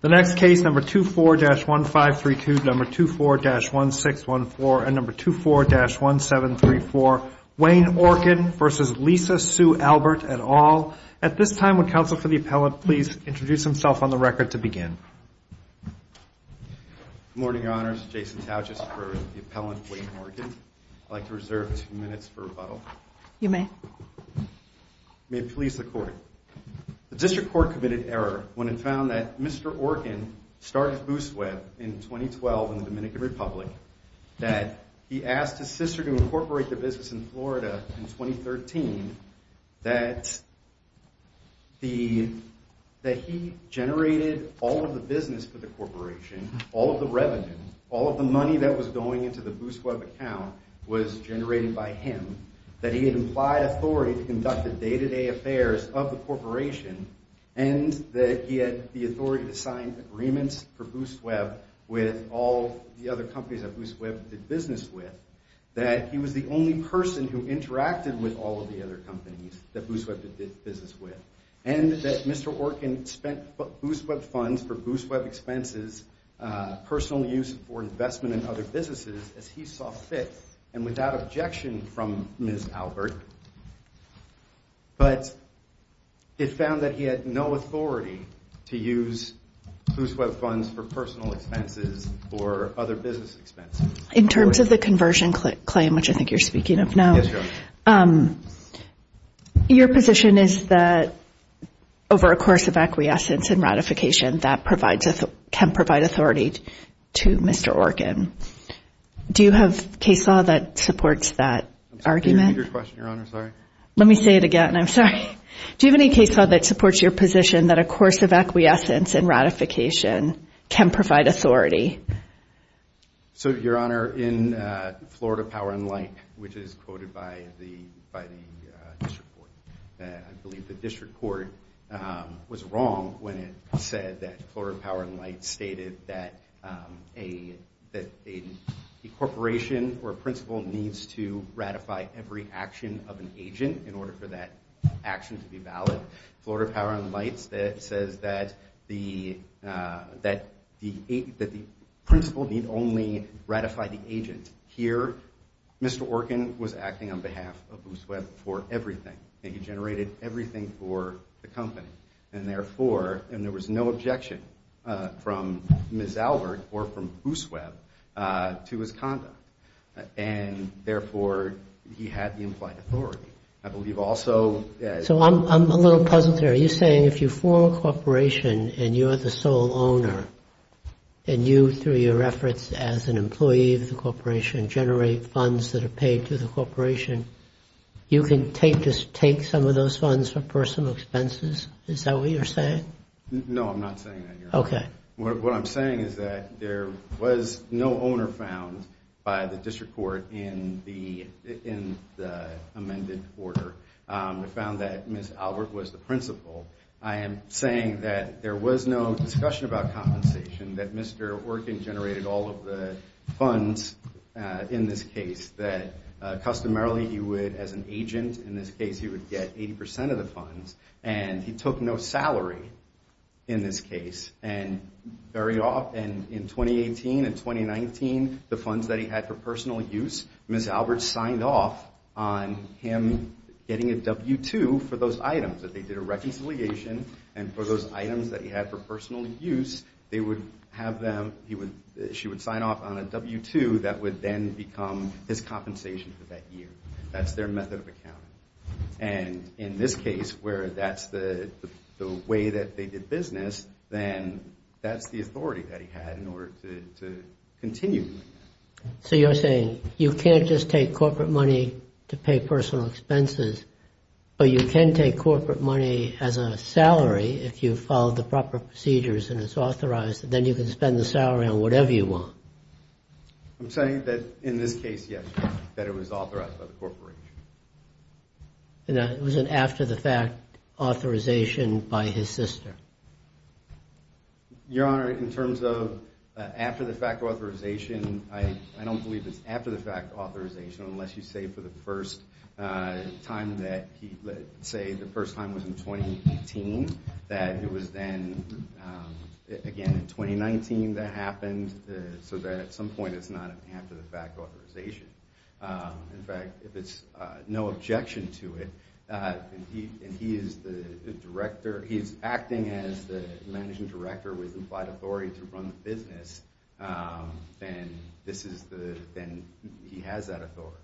The next case, number 24-1532, number 24-1614, and number 24-1734, Wayne Orkin v. Lisa Sue Albert et al. At this time, would counsel for the appellant please introduce himself on the record to begin. Good morning, Your Honors. Jason Tauchus for the appellant, Wayne Orkin. I'd like to reserve two minutes for rebuttal. You may. May it please the Court. The District Court committed error when it found that Mr. Orkin started Boost Web in 2012 in the Dominican Republic, that he asked his sister to incorporate the business in Florida in 2013, that he generated all of the business for the corporation, all of the revenue, all of the money that was going into the Boost Web account was generated by him, that he had implied authority to conduct the day-to-day affairs of the corporation, and that he had the authority to sign agreements for Boost Web with all the other companies that Boost Web did business with, that he was the only person who interacted with all of the other companies that Boost Web did business with, and that Mr. Orkin spent Boost Web funds for Boost Web expenses, personal use for investment in other businesses, as he saw fit and without objection from Ms. Albert, but it found that he had no authority to use Boost Web funds for personal expenses or other business expenses. In terms of the conversion claim, which I think you're speaking of now, your position is that over a course of acquiescence and ratification, that can provide authority to Mr. Orkin. Do you have case law that supports that argument? Let me say it again. I'm sorry. Do you have any case law that supports your position that a course of acquiescence and ratification can provide authority? So, Your Honor, in Florida Power and Light, which is quoted by the district court, I believe the district court was wrong when it said that Florida Power and Light stated that a corporation or principal needs to ratify every action of an agent in order for that action to be valid. Florida Power and Light says that the principal need only ratify the agent. Here, Mr. Orkin was acting on behalf of Boost Web for everything, and he generated everything for the company, and therefore there was no objection from Ms. Albert or from Boost Web to his conduct, and therefore he had the implied authority. So I'm a little puzzled here. Are you saying if you form a corporation and you're the sole owner, and you, through your efforts as an employee of the corporation, generate funds that are paid to the corporation, you can take some of those funds for personal expenses? Is that what you're saying? No, I'm not saying that, Your Honor. Okay. What I'm saying is that there was no owner found by the district court in the amended order. We found that Ms. Albert was the principal. I am saying that there was no discussion about compensation, that Mr. Orkin generated all of the funds in this case, that customarily he would, as an agent in this case, he would get 80% of the funds, and he took no salary in this case. And very often in 2018 and 2019, the funds that he had for personal use, Ms. Albert signed off on him getting a W-2 for those items, that they did a reconciliation, and for those items that he had for personal use, they would have them, she would sign off on a W-2 that would then become his compensation for that year. That's their method of accounting. And in this case, where that's the way that they did business, then that's the authority that he had in order to continue doing that. So you're saying you can't just take corporate money to pay personal expenses, but you can take corporate money as a salary if you follow the proper procedures and it's authorized, and then you can spend the salary on whatever you want. I'm saying that in this case, yes, that it was authorized by the corporation. And it was an after-the-fact authorization by his sister. Your Honor, in terms of after-the-fact authorization, I don't believe it's after-the-fact authorization unless you say for the first time that he, say the first time was in 2018, that it was then, again, in 2019 that happened, so that at some point it's not an after-the-fact authorization. In fact, if it's no objection to it, and he is the director, he's acting as the managing director with implied authority to run the business, then this is the, then he has that authority.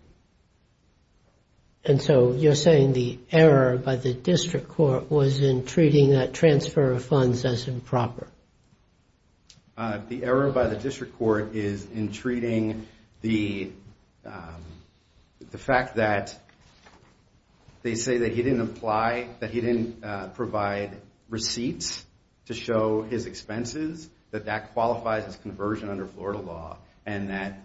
And so you're saying the error by the district court was in treating that transfer of funds as improper. The error by the district court is in treating the fact that they say that he didn't apply, that he didn't provide receipts to show his expenses, that that qualifies as conversion under Florida law, and that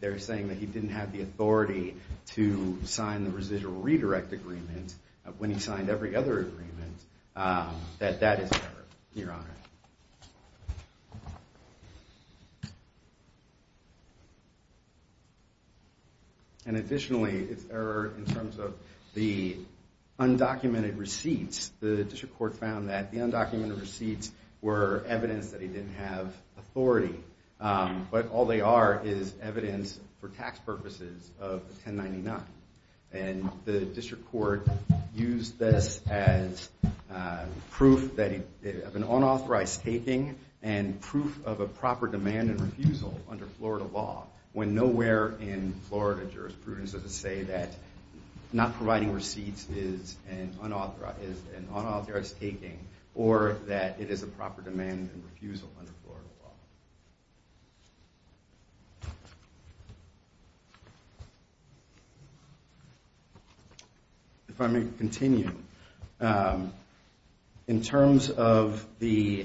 they're saying that he didn't have the authority to sign the residual redirect agreement when he signed every other agreement, that that is an error, Your Honor. And additionally, in terms of the undocumented receipts, the district court found that the undocumented receipts were evidence that he didn't have authority. But all they are is evidence, for tax purposes, of 1099. And the district court used this as proof of an unauthorized taking and proof of a proper demand and refusal under Florida law, when nowhere in Florida jurisprudence does it say that not providing receipts is an unauthorized taking, or that it is a proper demand and refusal under Florida law. If I may continue. In terms of the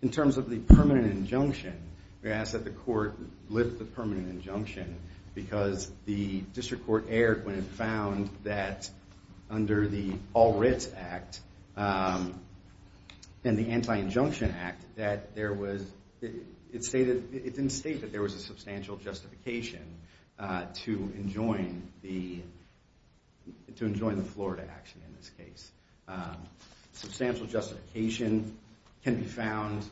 permanent injunction, we ask that the court lift the permanent injunction, because the district court erred when it found that under the All Writs Act and the Anti-Injunction Act, that it didn't state that there was a substantial justification to enjoin the Florida action in this case. Substantial justification can be found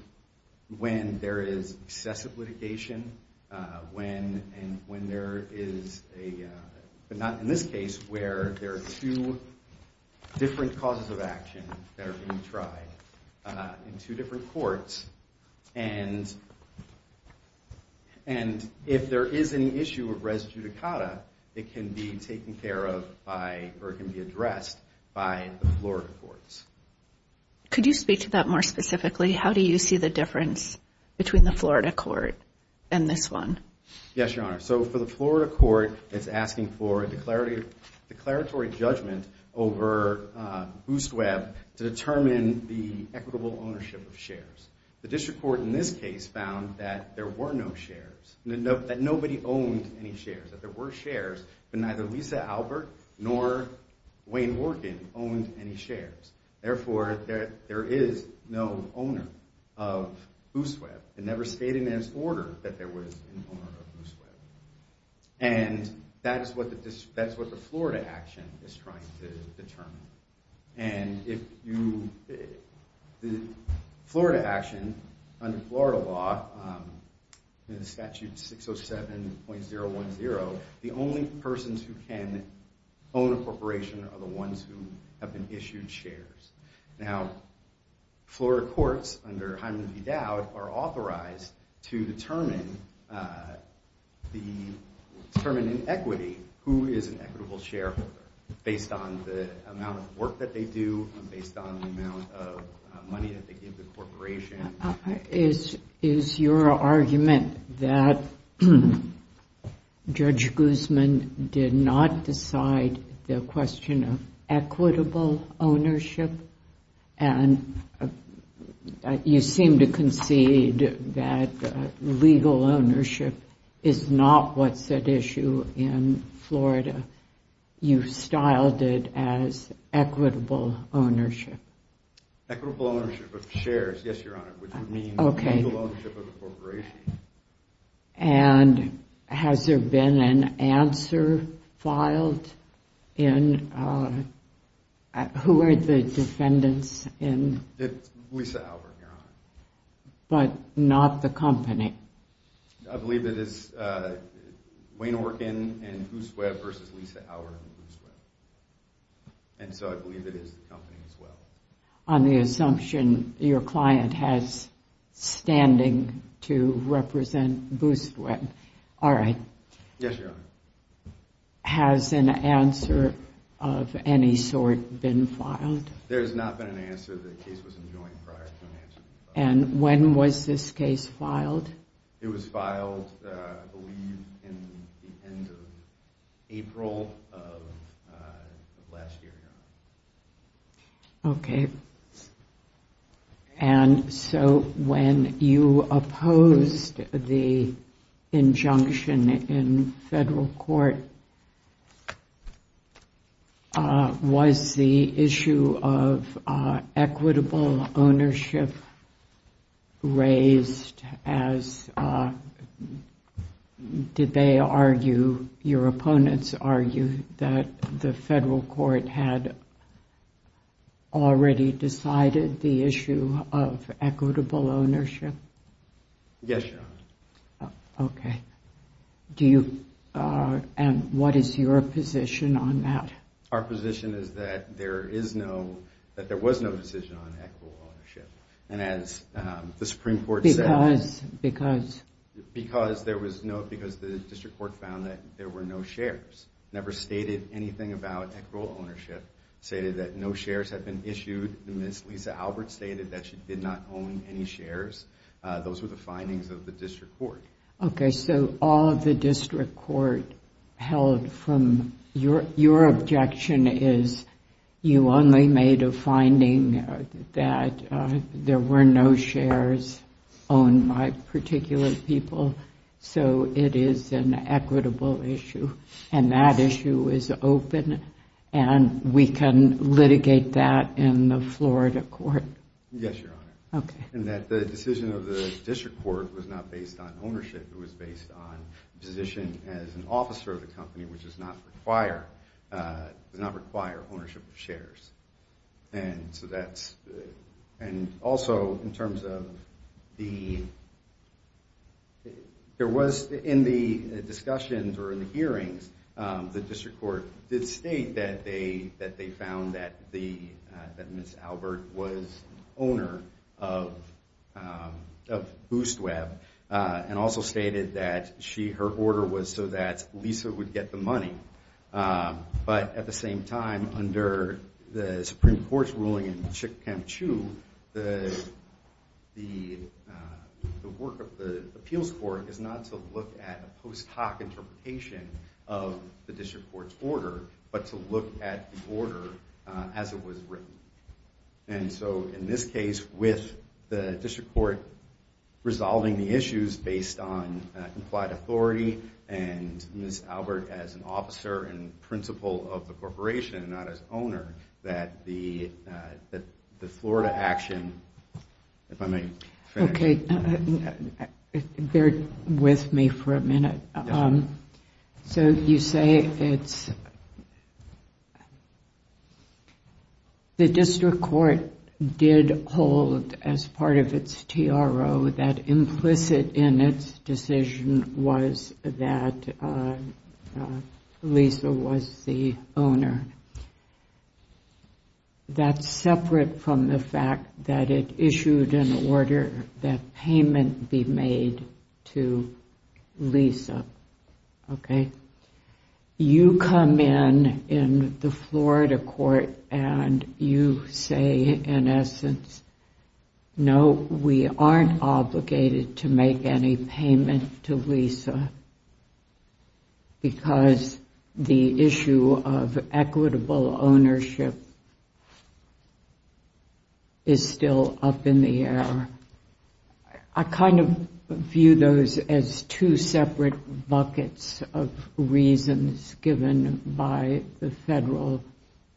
when there is excessive litigation, when there is a, but not in this case, where there are two different causes of action that are being tried in two different courts. And if there is an issue of res judicata, it can be taken care of by, or it can be addressed by the Florida courts. Could you speak to that more specifically? How do you see the difference between the Florida court and this one? Yes, Your Honor. So for the Florida court, it's asking for a declaratory judgment over Boost Web to determine the equitable ownership of shares. The district court in this case found that there were no shares, that nobody owned any shares, that there were shares, but neither Lisa Albert nor Wayne Orkin owned any shares. Therefore, there is no owner of Boost Web. It never stated in its order that there was an owner of Boost Web. And that is what the Florida action is trying to determine. And if you, the Florida action under Florida law, in the statute 607.010, the only persons who can own a corporation are the ones who have been issued shares. Now, Florida courts, under Hyman v. Dowd, are authorized to determine in equity who is an equitable shareholder based on the amount of work that they do, based on the amount of money that they give the corporation. Is your argument that Judge Guzman did not decide the question of equitable ownership? And you seem to concede that legal ownership is not what's at issue in Florida. You've styled it as equitable ownership. Equitable ownership of shares, yes, Your Honor, which would mean legal ownership of the corporation. And has there been an answer filed in, who are the defendants in? Lisa Albert, Your Honor. But not the company? I believe that it's Wayne Orkin and Boost Web versus Lisa Albert and Boost Web. And so I believe it is the company as well. On the assumption your client has standing to represent Boost Web. All right. Yes, Your Honor. Has an answer of any sort been filed? There has not been an answer. The case was enjoined prior to an answer being filed. And when was this case filed? It was filed, I believe, in the end of April of last year, Your Honor. Okay. And so when you opposed the injunction in federal court, was the issue of equitable ownership raised as did they argue, your opponents argued that the federal court had already decided the issue of equitable ownership? Yes, Your Honor. Okay. And what is your position on that? Our position is that there is no, that there was no decision on equitable ownership. And as the Supreme Court said. Because there was no, because the district court found that there were no shares. Never stated anything about equitable ownership. Stated that no shares had been issued. And Ms. Lisa Albert stated that she did not own any shares. Those were the findings of the district court. Okay. So all of the district court held from your objection is you only made a finding that there were no shares owned by particular people. So it is an equitable issue. And that issue is open. And we can litigate that in the Florida court. Yes, Your Honor. Okay. And that the decision of the district court was not based on ownership. It was based on position as an officer of the company, which does not require ownership of shares. And so that's, and also in terms of the, there was in the discussions or in the hearings, the district court did state that they found that Ms. Albert was owner of Boost Web. And also stated that she, her order was so that Lisa would get the money. But at the same time, under the Supreme Court's ruling in Chick-fil-A, the work of the appeals court is not to look at a post hoc interpretation of the district court's order, but to look at the order as it was written. And so in this case, with the district court resolving the issues based on implied authority and Ms. Albert as an officer and principal of the corporation and not as owner, that the Florida action, if I may finish. Okay. Bear with me for a minute. So you say it's, the district court did hold as part of its TRO that implicit in its decision was that Lisa was the owner. That's separate from the fact that it issued an order that payment be made to Lisa. Okay. You come in, in the Florida court, and you say in essence, no, we aren't obligated to make any payment to Lisa. Because the issue of equitable ownership is still up in the air. I kind of view those as two separate buckets of reasons given by the federal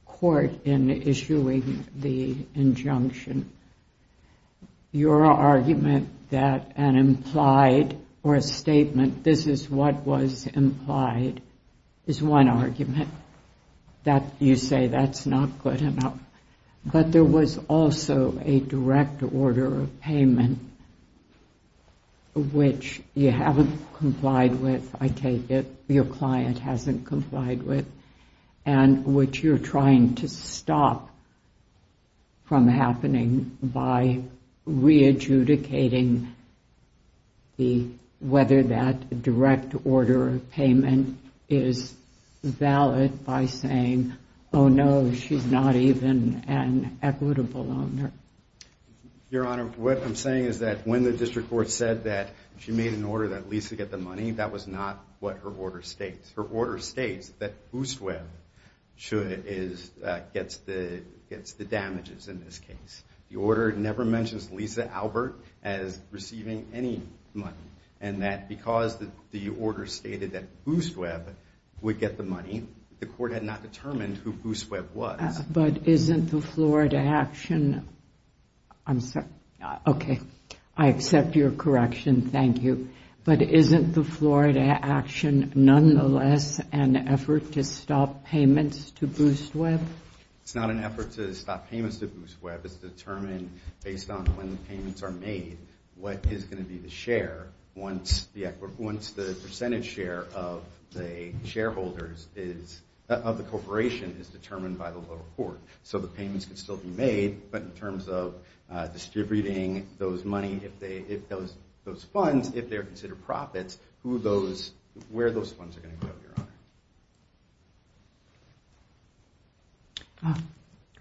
court in issuing the injunction. Your argument that an implied or a statement, this is what was implied, is one argument that you say that's not good enough. But there was also a direct order of payment which you haven't complied with, I take it, your client hasn't complied with, and which you're trying to stop from happening by re-adjudicating whether that direct order of payment is valid by saying, oh no, she's not even an equitable owner. Your Honor, what I'm saying is that when the district court said that she made an order that Lisa get the money, that was not what her order states. Her order states that Boost Web gets the damages in this case. The order never mentions Lisa Albert as receiving any money, and that because the order stated that Boost Web would get the money, the court had not determined who Boost Web was. But isn't the Florida action, I'm sorry, okay, I accept your correction, thank you. But isn't the Florida action nonetheless an effort to stop payments to Boost Web? It's not an effort to stop payments to Boost Web. It's determined based on when the payments are made what is going to be the share once the percentage share of the corporation is determined by the lower court. So the payments can still be made, but in terms of distributing those money, if those funds, if they're considered profits, where those funds are going to go, Your Honor.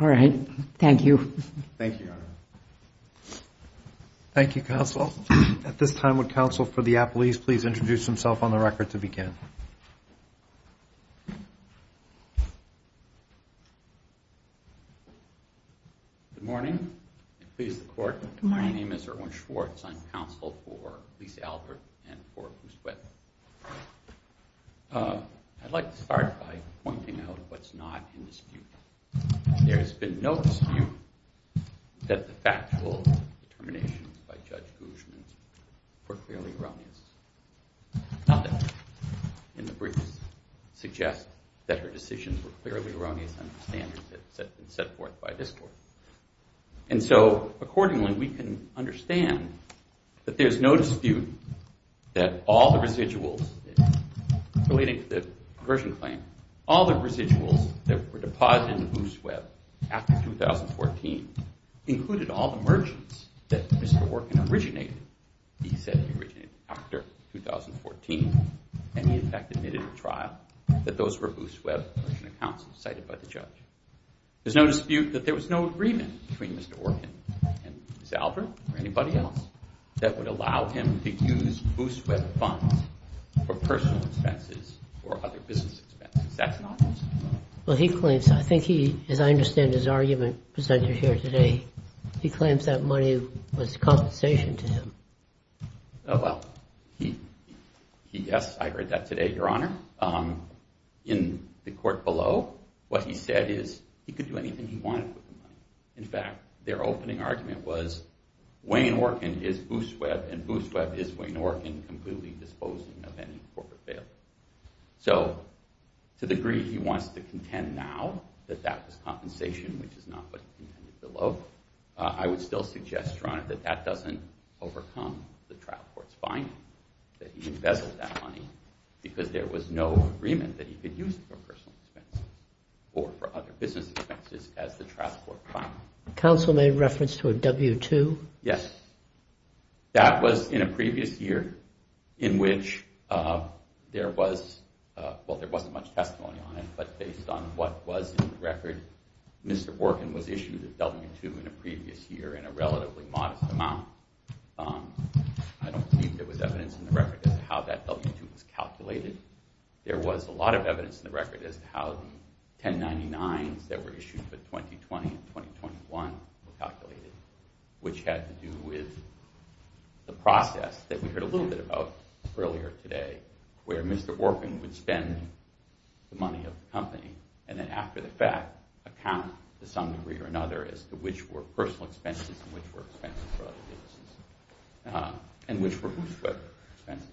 All right. Thank you. Thank you, Your Honor. Thank you, counsel. At this time, would counsel for the appellees please introduce themselves on the record to begin? Good morning. Please, the court. Good morning. My name is Erwin Schwartz. I'm counsel for Lisa Albert and for Boost Web. I'd like to start by pointing out what's not in dispute. There has been no dispute that the factual determinations by Judge Guzman were clearly erroneous. Nothing in the briefs suggests that her decisions were clearly erroneous under the standards that have been set forth by this court. And so accordingly, we can understand that there's no dispute that all the residuals relating to the conversion claim, all the residuals that were deposited in Boost Web after 2014 included all the merchants that Mr. Orkin originated. He said he originated after 2014, and he in fact admitted at trial that those were Boost Web accounts cited by the judge. There's no dispute that there was no agreement between Mr. Orkin and Ms. Albert or anybody else that would allow him to use Boost Web funds for personal expenses or other business expenses. That's not true. Well, he claims, I think he, as I understand his argument presented here today, he claims that money was compensation to him. Oh, well. Yes, I heard that today, Your Honor. In the court below, what he said is he could do anything he wanted with the money. In fact, their opening argument was Wayne Orkin is Boost Web, and Boost Web is Wayne Orkin completely disposing of any corporate bail. So to the degree he wants to contend now that that was compensation, which is not what he contended below, I would still suggest, Your Honor, that that doesn't overcome the trial court's finding that he embezzled that money because there was no agreement that he could use it for personal expenses or for other business expenses as the trial court found. Counsel made reference to a W-2? Yes. That was in a previous year in which there was, well, there wasn't much testimony on it, but based on what was in the record, Mr. Orkin was issued a W-2 in a previous year in a relatively modest amount. I don't believe there was evidence in the record as to how that W-2 was calculated. There was a lot of evidence in the record as to how the 1099s that were issued for 2020 and 2021 were calculated, which had to do with the process that we heard a little bit about earlier today where Mr. Orkin would spend the money of the company and then after the fact account to some degree or another as to which were personal expenses and which were expenses for other businesses and which were OOSWEB expenses.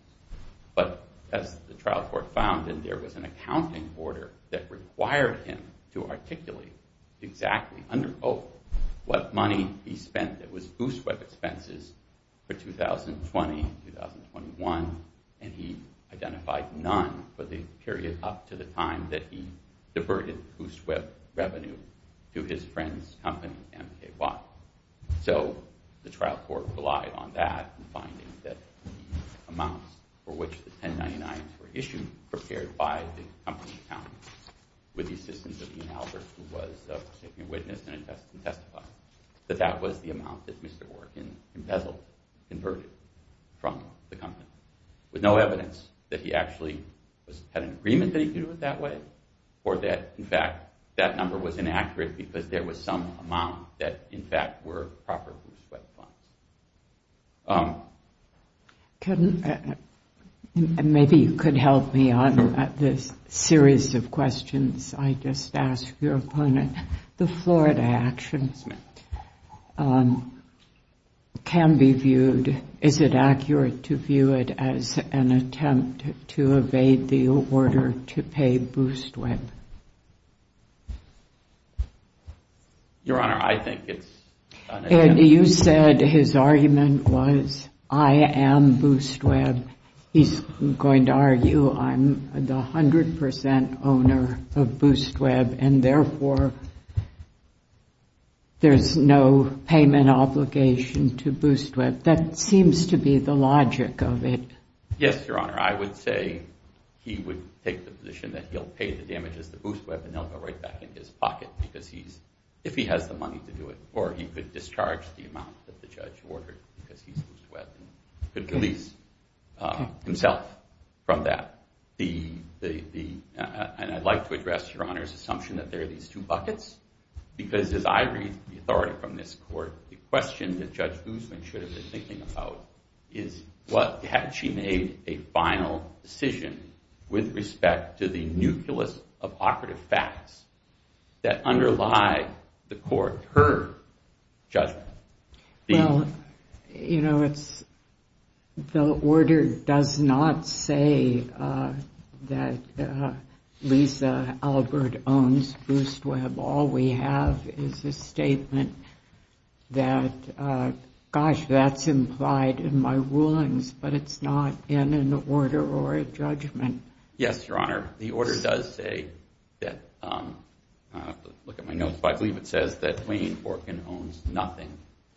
But as the trial court found, there was an accounting order that required him to articulate exactly under oath what money he spent that was OOSWEB expenses for 2020 and 2021, and he identified none for the period up to the time that he diverted OOSWEB revenue to his friend's company, MKY. So the trial court relied on that in finding that the amounts for which the 1099s were issued prepared by the company's accountants with the assistance of Ian Albert, who was a witness and a testifier, that that was the amount that Mr. Orkin embezzled, inverted from the company with no evidence that he actually had an agreement that he could do it that way or that, in fact, that number was inaccurate because there was some amount that, in fact, were proper OOSWEB funds. Maybe you could help me on this series of questions. I just asked your opponent. The Florida actions can be viewed, is it accurate to view it as an attempt to evade the order to pay OOSWEB? Your Honor, I think it's an attempt. And you said his argument was I am OOSWEB. He's going to argue I'm the 100 percent owner of OOSWEB, and therefore there's no payment obligation to OOSWEB. That seems to be the logic of it. Yes, Your Honor, I would say he would take the position that he'll pay the damages to OOSWEB and they'll go right back in his pocket because if he has the money to do it or he could discharge the amount that the judge ordered because he's OOSWEB and could release himself from that. And I'd like to address Your Honor's assumption that there are these two buckets because as I read the authority from this court, the question that Judge Guzman should have been thinking about is had she made a final decision with respect to the nucleus of operative facts that underlie the court, her judgment. Well, you know, the order does not say that Lisa Albert owns OOSWEB. All we have is this statement that, gosh, that's implied in my rulings, but it's not in an order or a judgment. Yes, Your Honor, the order does say that, look at my notes, but I believe it says that Wayne Orkin owns nothing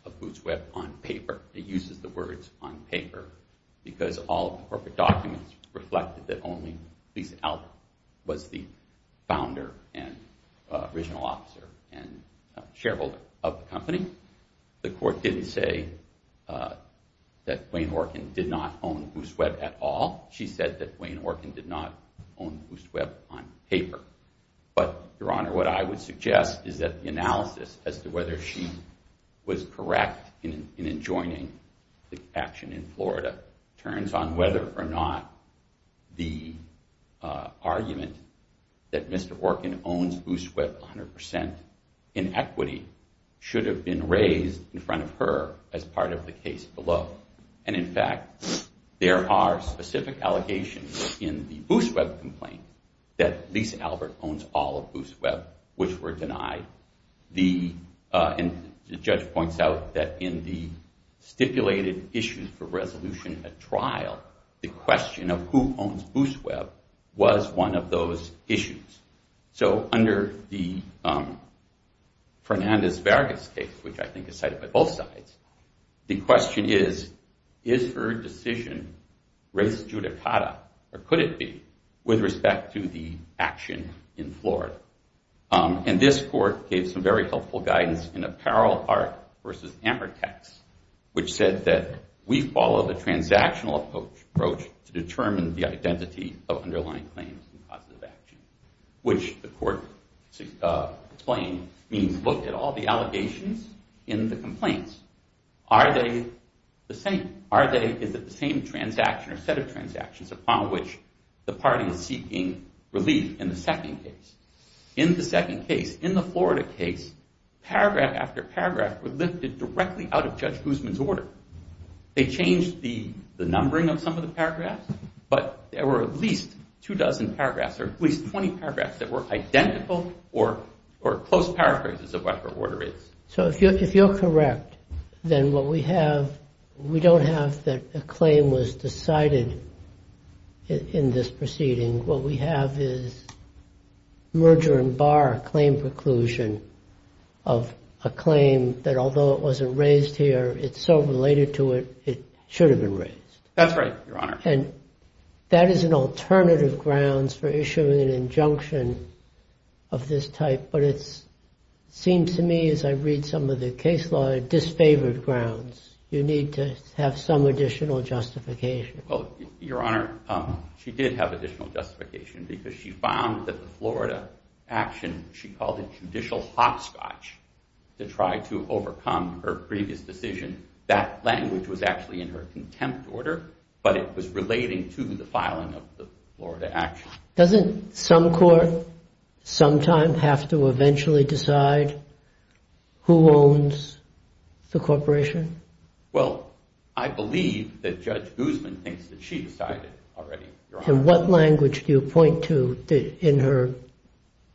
of OOSWEB on paper. It uses the words on paper because all of the corporate documents reflect that only Lisa Albert was the founder and original officer and shareholder of the company. The court didn't say that Wayne Orkin did not own OOSWEB at all. She said that Wayne Orkin did not own OOSWEB on paper. But, Your Honor, what I would suggest is that the analysis as to whether she was correct in enjoining the action in Florida turns on whether or not the argument that Mr. Orkin owns OOSWEB 100% in equity should have been raised in front of her as part of the case below. And, in fact, there are specific allegations in the OOSWEB complaint that Lisa Albert owns all of OOSWEB, which were denied. And the judge points out that in the stipulated issue for resolution at trial, the question of who owns OOSWEB was one of those issues. So under the Fernandez-Vargas case, which I think is cited by both sides, the question is, is her decision res judicata, or could it be, with respect to the action in Florida? And this court gave some very helpful guidance in Apparel Art v. Amortex, which said that we follow the transactional approach to determine the identity of underlying claims and causes of action, which the court explained means look at all the allegations in the complaints. Are they the same? Is it the same transaction or set of transactions upon which the party is seeking relief in the second case? In the second case, in the Florida case, paragraph after paragraph were lifted directly out of Judge Guzman's order. They changed the numbering of some of the paragraphs, but there were at least two dozen paragraphs or at least 20 paragraphs that were identical or close paraphrases of whatever order it is. So if you're correct, then what we have, we don't have that a claim was decided in this proceeding. What we have is merger and bar claim preclusion of a claim that although it wasn't raised here, it's so related to it, it should have been raised. That's right, Your Honor. And that is an alternative grounds for issuing an injunction of this type, but it seems to me as I read some of the case law, it disfavored grounds. You need to have some additional justification. Well, Your Honor, she did have additional justification because she found that the Florida action, she called it judicial hopscotch to try to overcome her previous decision. That language was actually in her contempt order, but it was relating to the filing of the Florida action. Doesn't some court sometime have to eventually decide who owns the corporation? Well, I believe that Judge Guzman thinks that she decided already, Your Honor. And what language do you point to in her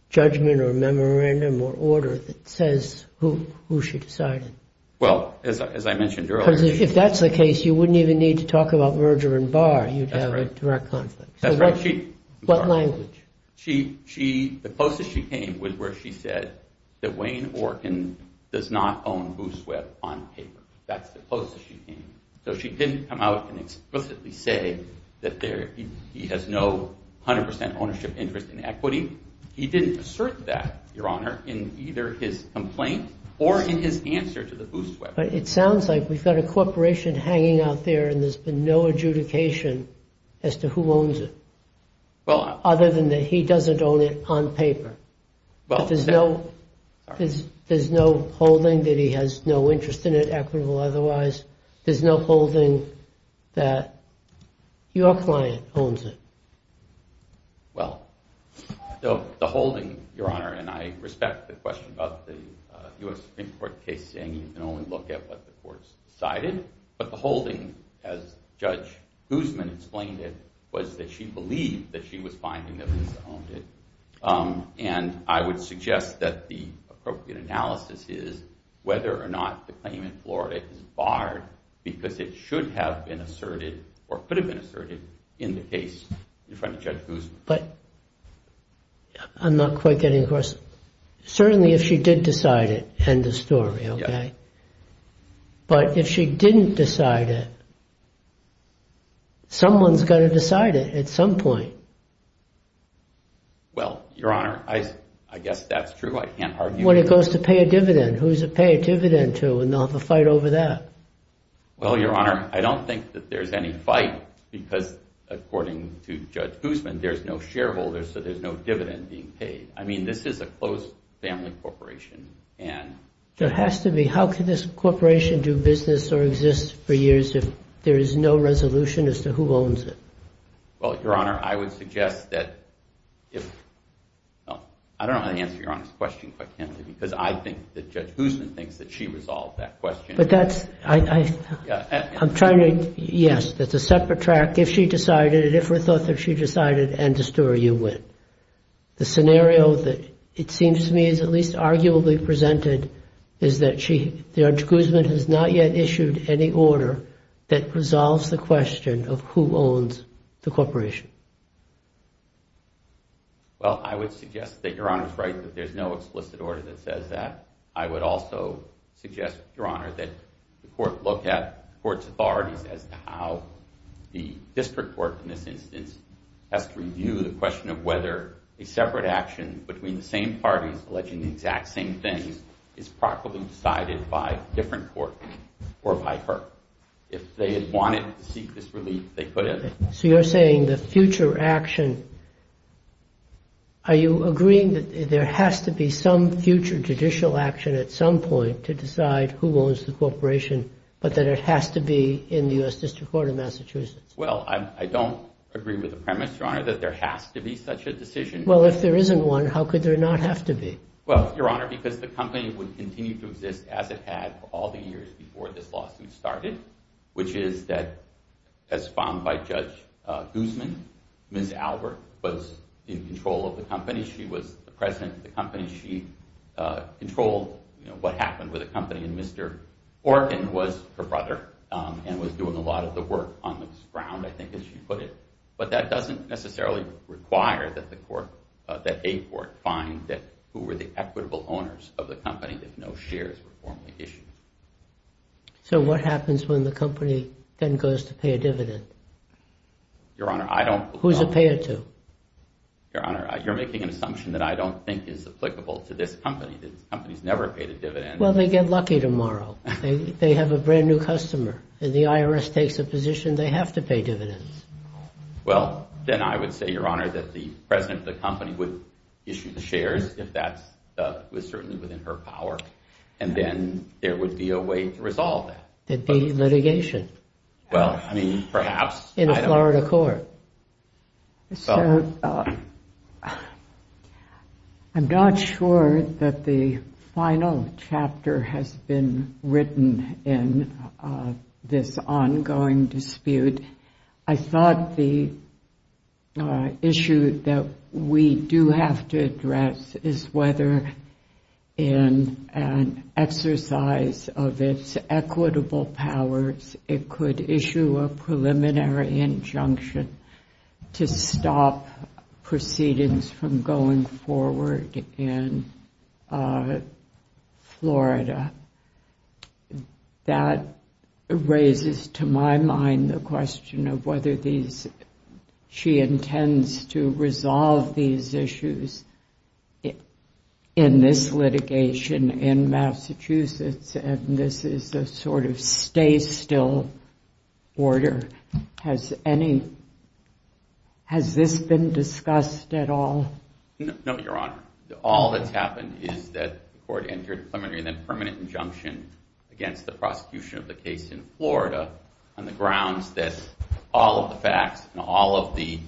judgment or memorandum or order that says who she decided? Well, as I mentioned earlier. Because if that's the case, you wouldn't even need to talk about merger and bar. You'd have a direct conflict. That's right. What language? The closest she came was where she said that Wayne Orkin does not own Boost Web on paper. That's the closest she came. So she didn't come out and explicitly say that he has no 100 percent ownership interest in equity. He didn't assert that, Your Honor, in either his complaint or in his answer to the Boost Web. But it sounds like we've got a corporation hanging out there and there's been no adjudication as to who owns it, other than that he doesn't own it on paper. There's no holding that he has no interest in it, equitable otherwise. There's no holding that your client owns it. Well, the holding, Your Honor, and I respect the question about the U.S. Supreme Court case saying you can only look at what the courts decided. But the holding, as Judge Guzman explained it, was that she believed that she was finding that Lisa owned it. And I would suggest that the appropriate analysis is whether or not the claim in Florida is barred because it should have been asserted or could have been asserted in the case in front of Judge Guzman. But I'm not quite getting across. Certainly if she did decide it, end of story. But if she didn't decide it, someone's going to decide it at some point. Well, Your Honor, I guess that's true. I can't argue with that. When it goes to pay a dividend, who's it pay a dividend to? And they'll have a fight over that. Well, Your Honor, I don't think that there's any fight because, according to Judge Guzman, there's no shareholders, so there's no dividend being paid. I mean, this is a closed family corporation. There has to be. How can this corporation do business or exist for years if there is no resolution as to who owns it? Well, Your Honor, I would suggest that if – I don't know how to answer Your Honor's question quite candidly because I think that Judge Guzman thinks that she resolved that question. But that's – I'm trying to – yes, that's a separate track. If she decided it, if we thought that she decided it, end of story, you win. The scenario that it seems to me is at least arguably presented is that Judge Guzman has not yet issued any order that resolves the question of who owns the corporation. Well, I would suggest that Your Honor's right that there's no explicit order that says that. I would also suggest, Your Honor, that the court look at the court's authorities as to how the district court in this instance has to review the question of whether a separate action between the same parties alleging the exact same things is properly decided by a different court or by her. If they had wanted to seek this relief, they could have. So you're saying the future action – are you agreeing that there has to be some future judicial action at some point to decide who owns the corporation but that it has to be in the U.S. District Court of Massachusetts? Well, I don't agree with the premise, Your Honor, that there has to be such a decision. Well, if there isn't one, how could there not have to be? Well, Your Honor, because the company would continue to exist as it had all the years before this lawsuit started, which is that as found by Judge Guzman, Ms. Albert was in control of the company. She was the president of the company. She controlled what happened with the company. And Mr. Orkin was her brother and was doing a lot of the work on this ground, I think as she put it. But that doesn't necessarily require that a court find who were the equitable owners of the company if no shares were formally issued. So what happens when the company then goes to pay a dividend? Your Honor, I don't – Who does it pay it to? Your Honor, you're making an assumption that I don't think is applicable to this company. This company's never paid a dividend. Well, they get lucky tomorrow. They have a brand-new customer. If the IRS takes a position, they have to pay dividends. Well, then I would say, Your Honor, that the president of the company would issue the shares if that was certainly within her power, and then there would be a way to resolve that. It'd be litigation. Well, I mean, perhaps. In a Florida court. I'm not sure that the final chapter has been written in this ongoing dispute. I thought the issue that we do have to address is whether in an exercise of its equitable powers, it could issue a preliminary injunction to stop proceedings from going forward in Florida. That raises to my mind the question of whether these – she intends to resolve these issues in this litigation in Massachusetts, and this is a sort of stay-still order. Has any – has this been discussed at all? No, Your Honor. All that's happened is that the court entered a preliminary and then permanent injunction against the prosecution of the case in Florida on the grounds that all of the facts and all of the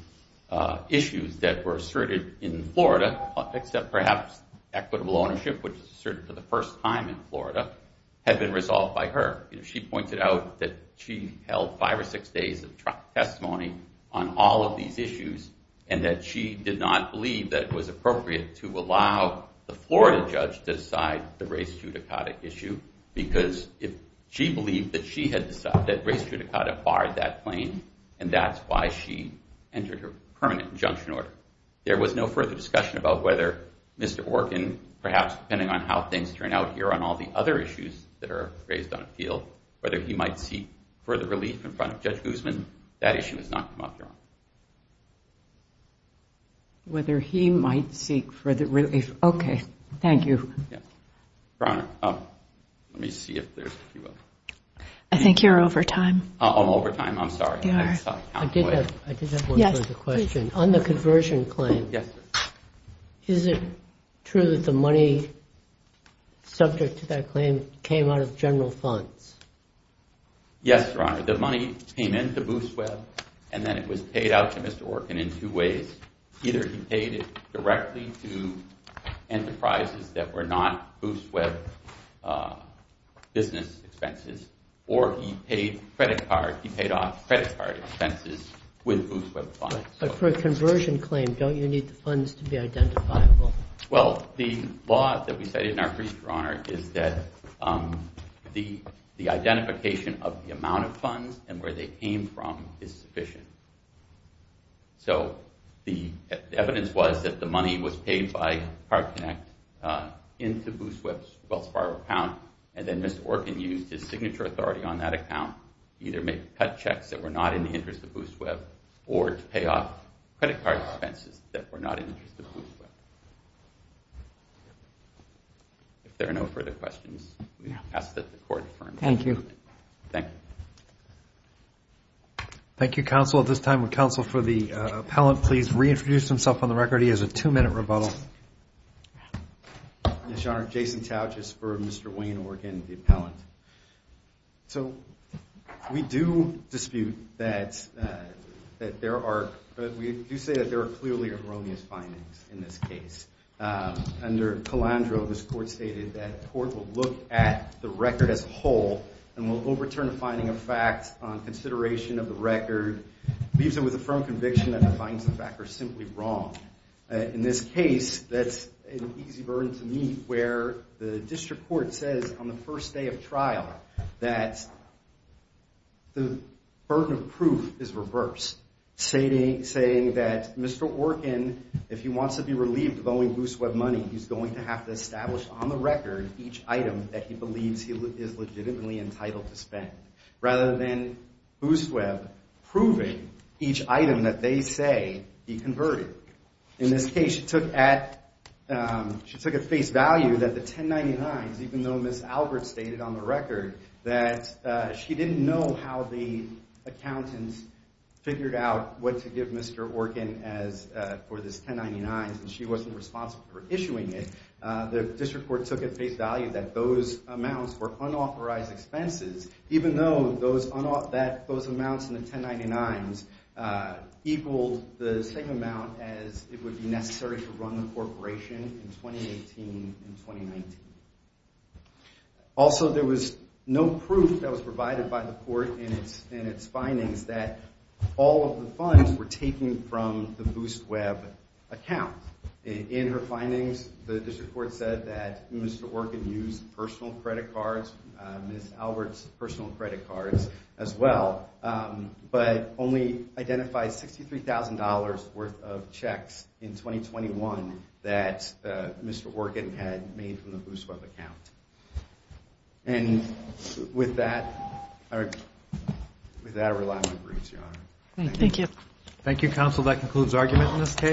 issues that were asserted in Florida, except perhaps equitable ownership, which was asserted for the first time in Florida, had been resolved by her. She pointed out that she held five or six days of testimony on all of these issues and that she did not believe that it was appropriate to allow the Florida judge to decide the race judicata issue because she believed that she had decided that race judicata barred that claim, and that's why she entered her permanent injunction order. There was no further discussion about whether Mr. Orkin, perhaps depending on how things turn out here on all the other issues that are raised on the field, whether he might seek further relief in front of Judge Guzman. That issue has not come up, Your Honor. Whether he might seek further relief. Okay. Thank you. Yes. Your Honor, let me see if there's – I think you're over time. I'm over time. I'm sorry. I did have one further question. On the conversion claim, is it true that the money subject to that claim came out of general funds? Yes, Your Honor. The money came into Boost Web and then it was paid out to Mr. Orkin in two ways. Either he paid it directly to enterprises that were not Boost Web business expenses or he paid credit card – he paid off credit card expenses with Boost Web funds. But for a conversion claim, don't you need the funds to be identifiable? Well, the law that we cited in our brief, Your Honor, is that the identification of the amount of funds and where they came from is sufficient. So the evidence was that the money was paid by Card Connect into Boost Web's Wells Fargo account, and then Mr. Orkin used his signature authority on that account to either make cut checks that were not in the interest of Boost Web or to pay off credit card expenses that were not in the interest of Boost Web. If there are no further questions, we ask that the Court confirm. Thank you. Thank you. Thank you, counsel. At this time, would counsel for the appellant please reintroduce himself on the record? He has a two-minute rebuttal. Yes, Your Honor. Jason Tauch is for Mr. Wayne Orkin, the appellant. So we do dispute that there are, but we do say that there are clearly erroneous findings in this case. Under Calandro, this Court stated that the Court will look at the record as a whole and will overturn a finding of fact on consideration of the record, leaves it with a firm conviction that the findings, in fact, are simply wrong. In this case, that's an easy burden to meet, where the district court says on the first day of trial that the burden of proof is reversed, saying that Mr. Orkin, if he wants to be relieved of owing Boost Web money, he's going to have to establish on the record each item that he believes he is legitimately entitled to spend, rather than Boost Web proving each item that they say he converted. In this case, she took at face value that the 1099s, even though Ms. Albert stated on the record that she didn't know how the accountants figured out what to give Mr. Orkin for this 1099s and she wasn't responsible for issuing it, the district court took at face value that those amounts were unauthorized expenses, even though those amounts in the 1099s equaled the same amount as it would be necessary to run the corporation in 2018 and 2019. Also, there was no proof that was provided by the court in its findings that all of the funds were taken from the Boost Web account. In her findings, the district court said that Mr. Orkin used personal credit cards, Ms. Albert's personal credit cards as well, but only identified $63,000 worth of checks in 2021 that Mr. Orkin had made from the Boost Web account. And with that, I rely on your briefs, Your Honor. Thank you. Thank you, counsel. That concludes argument in this case.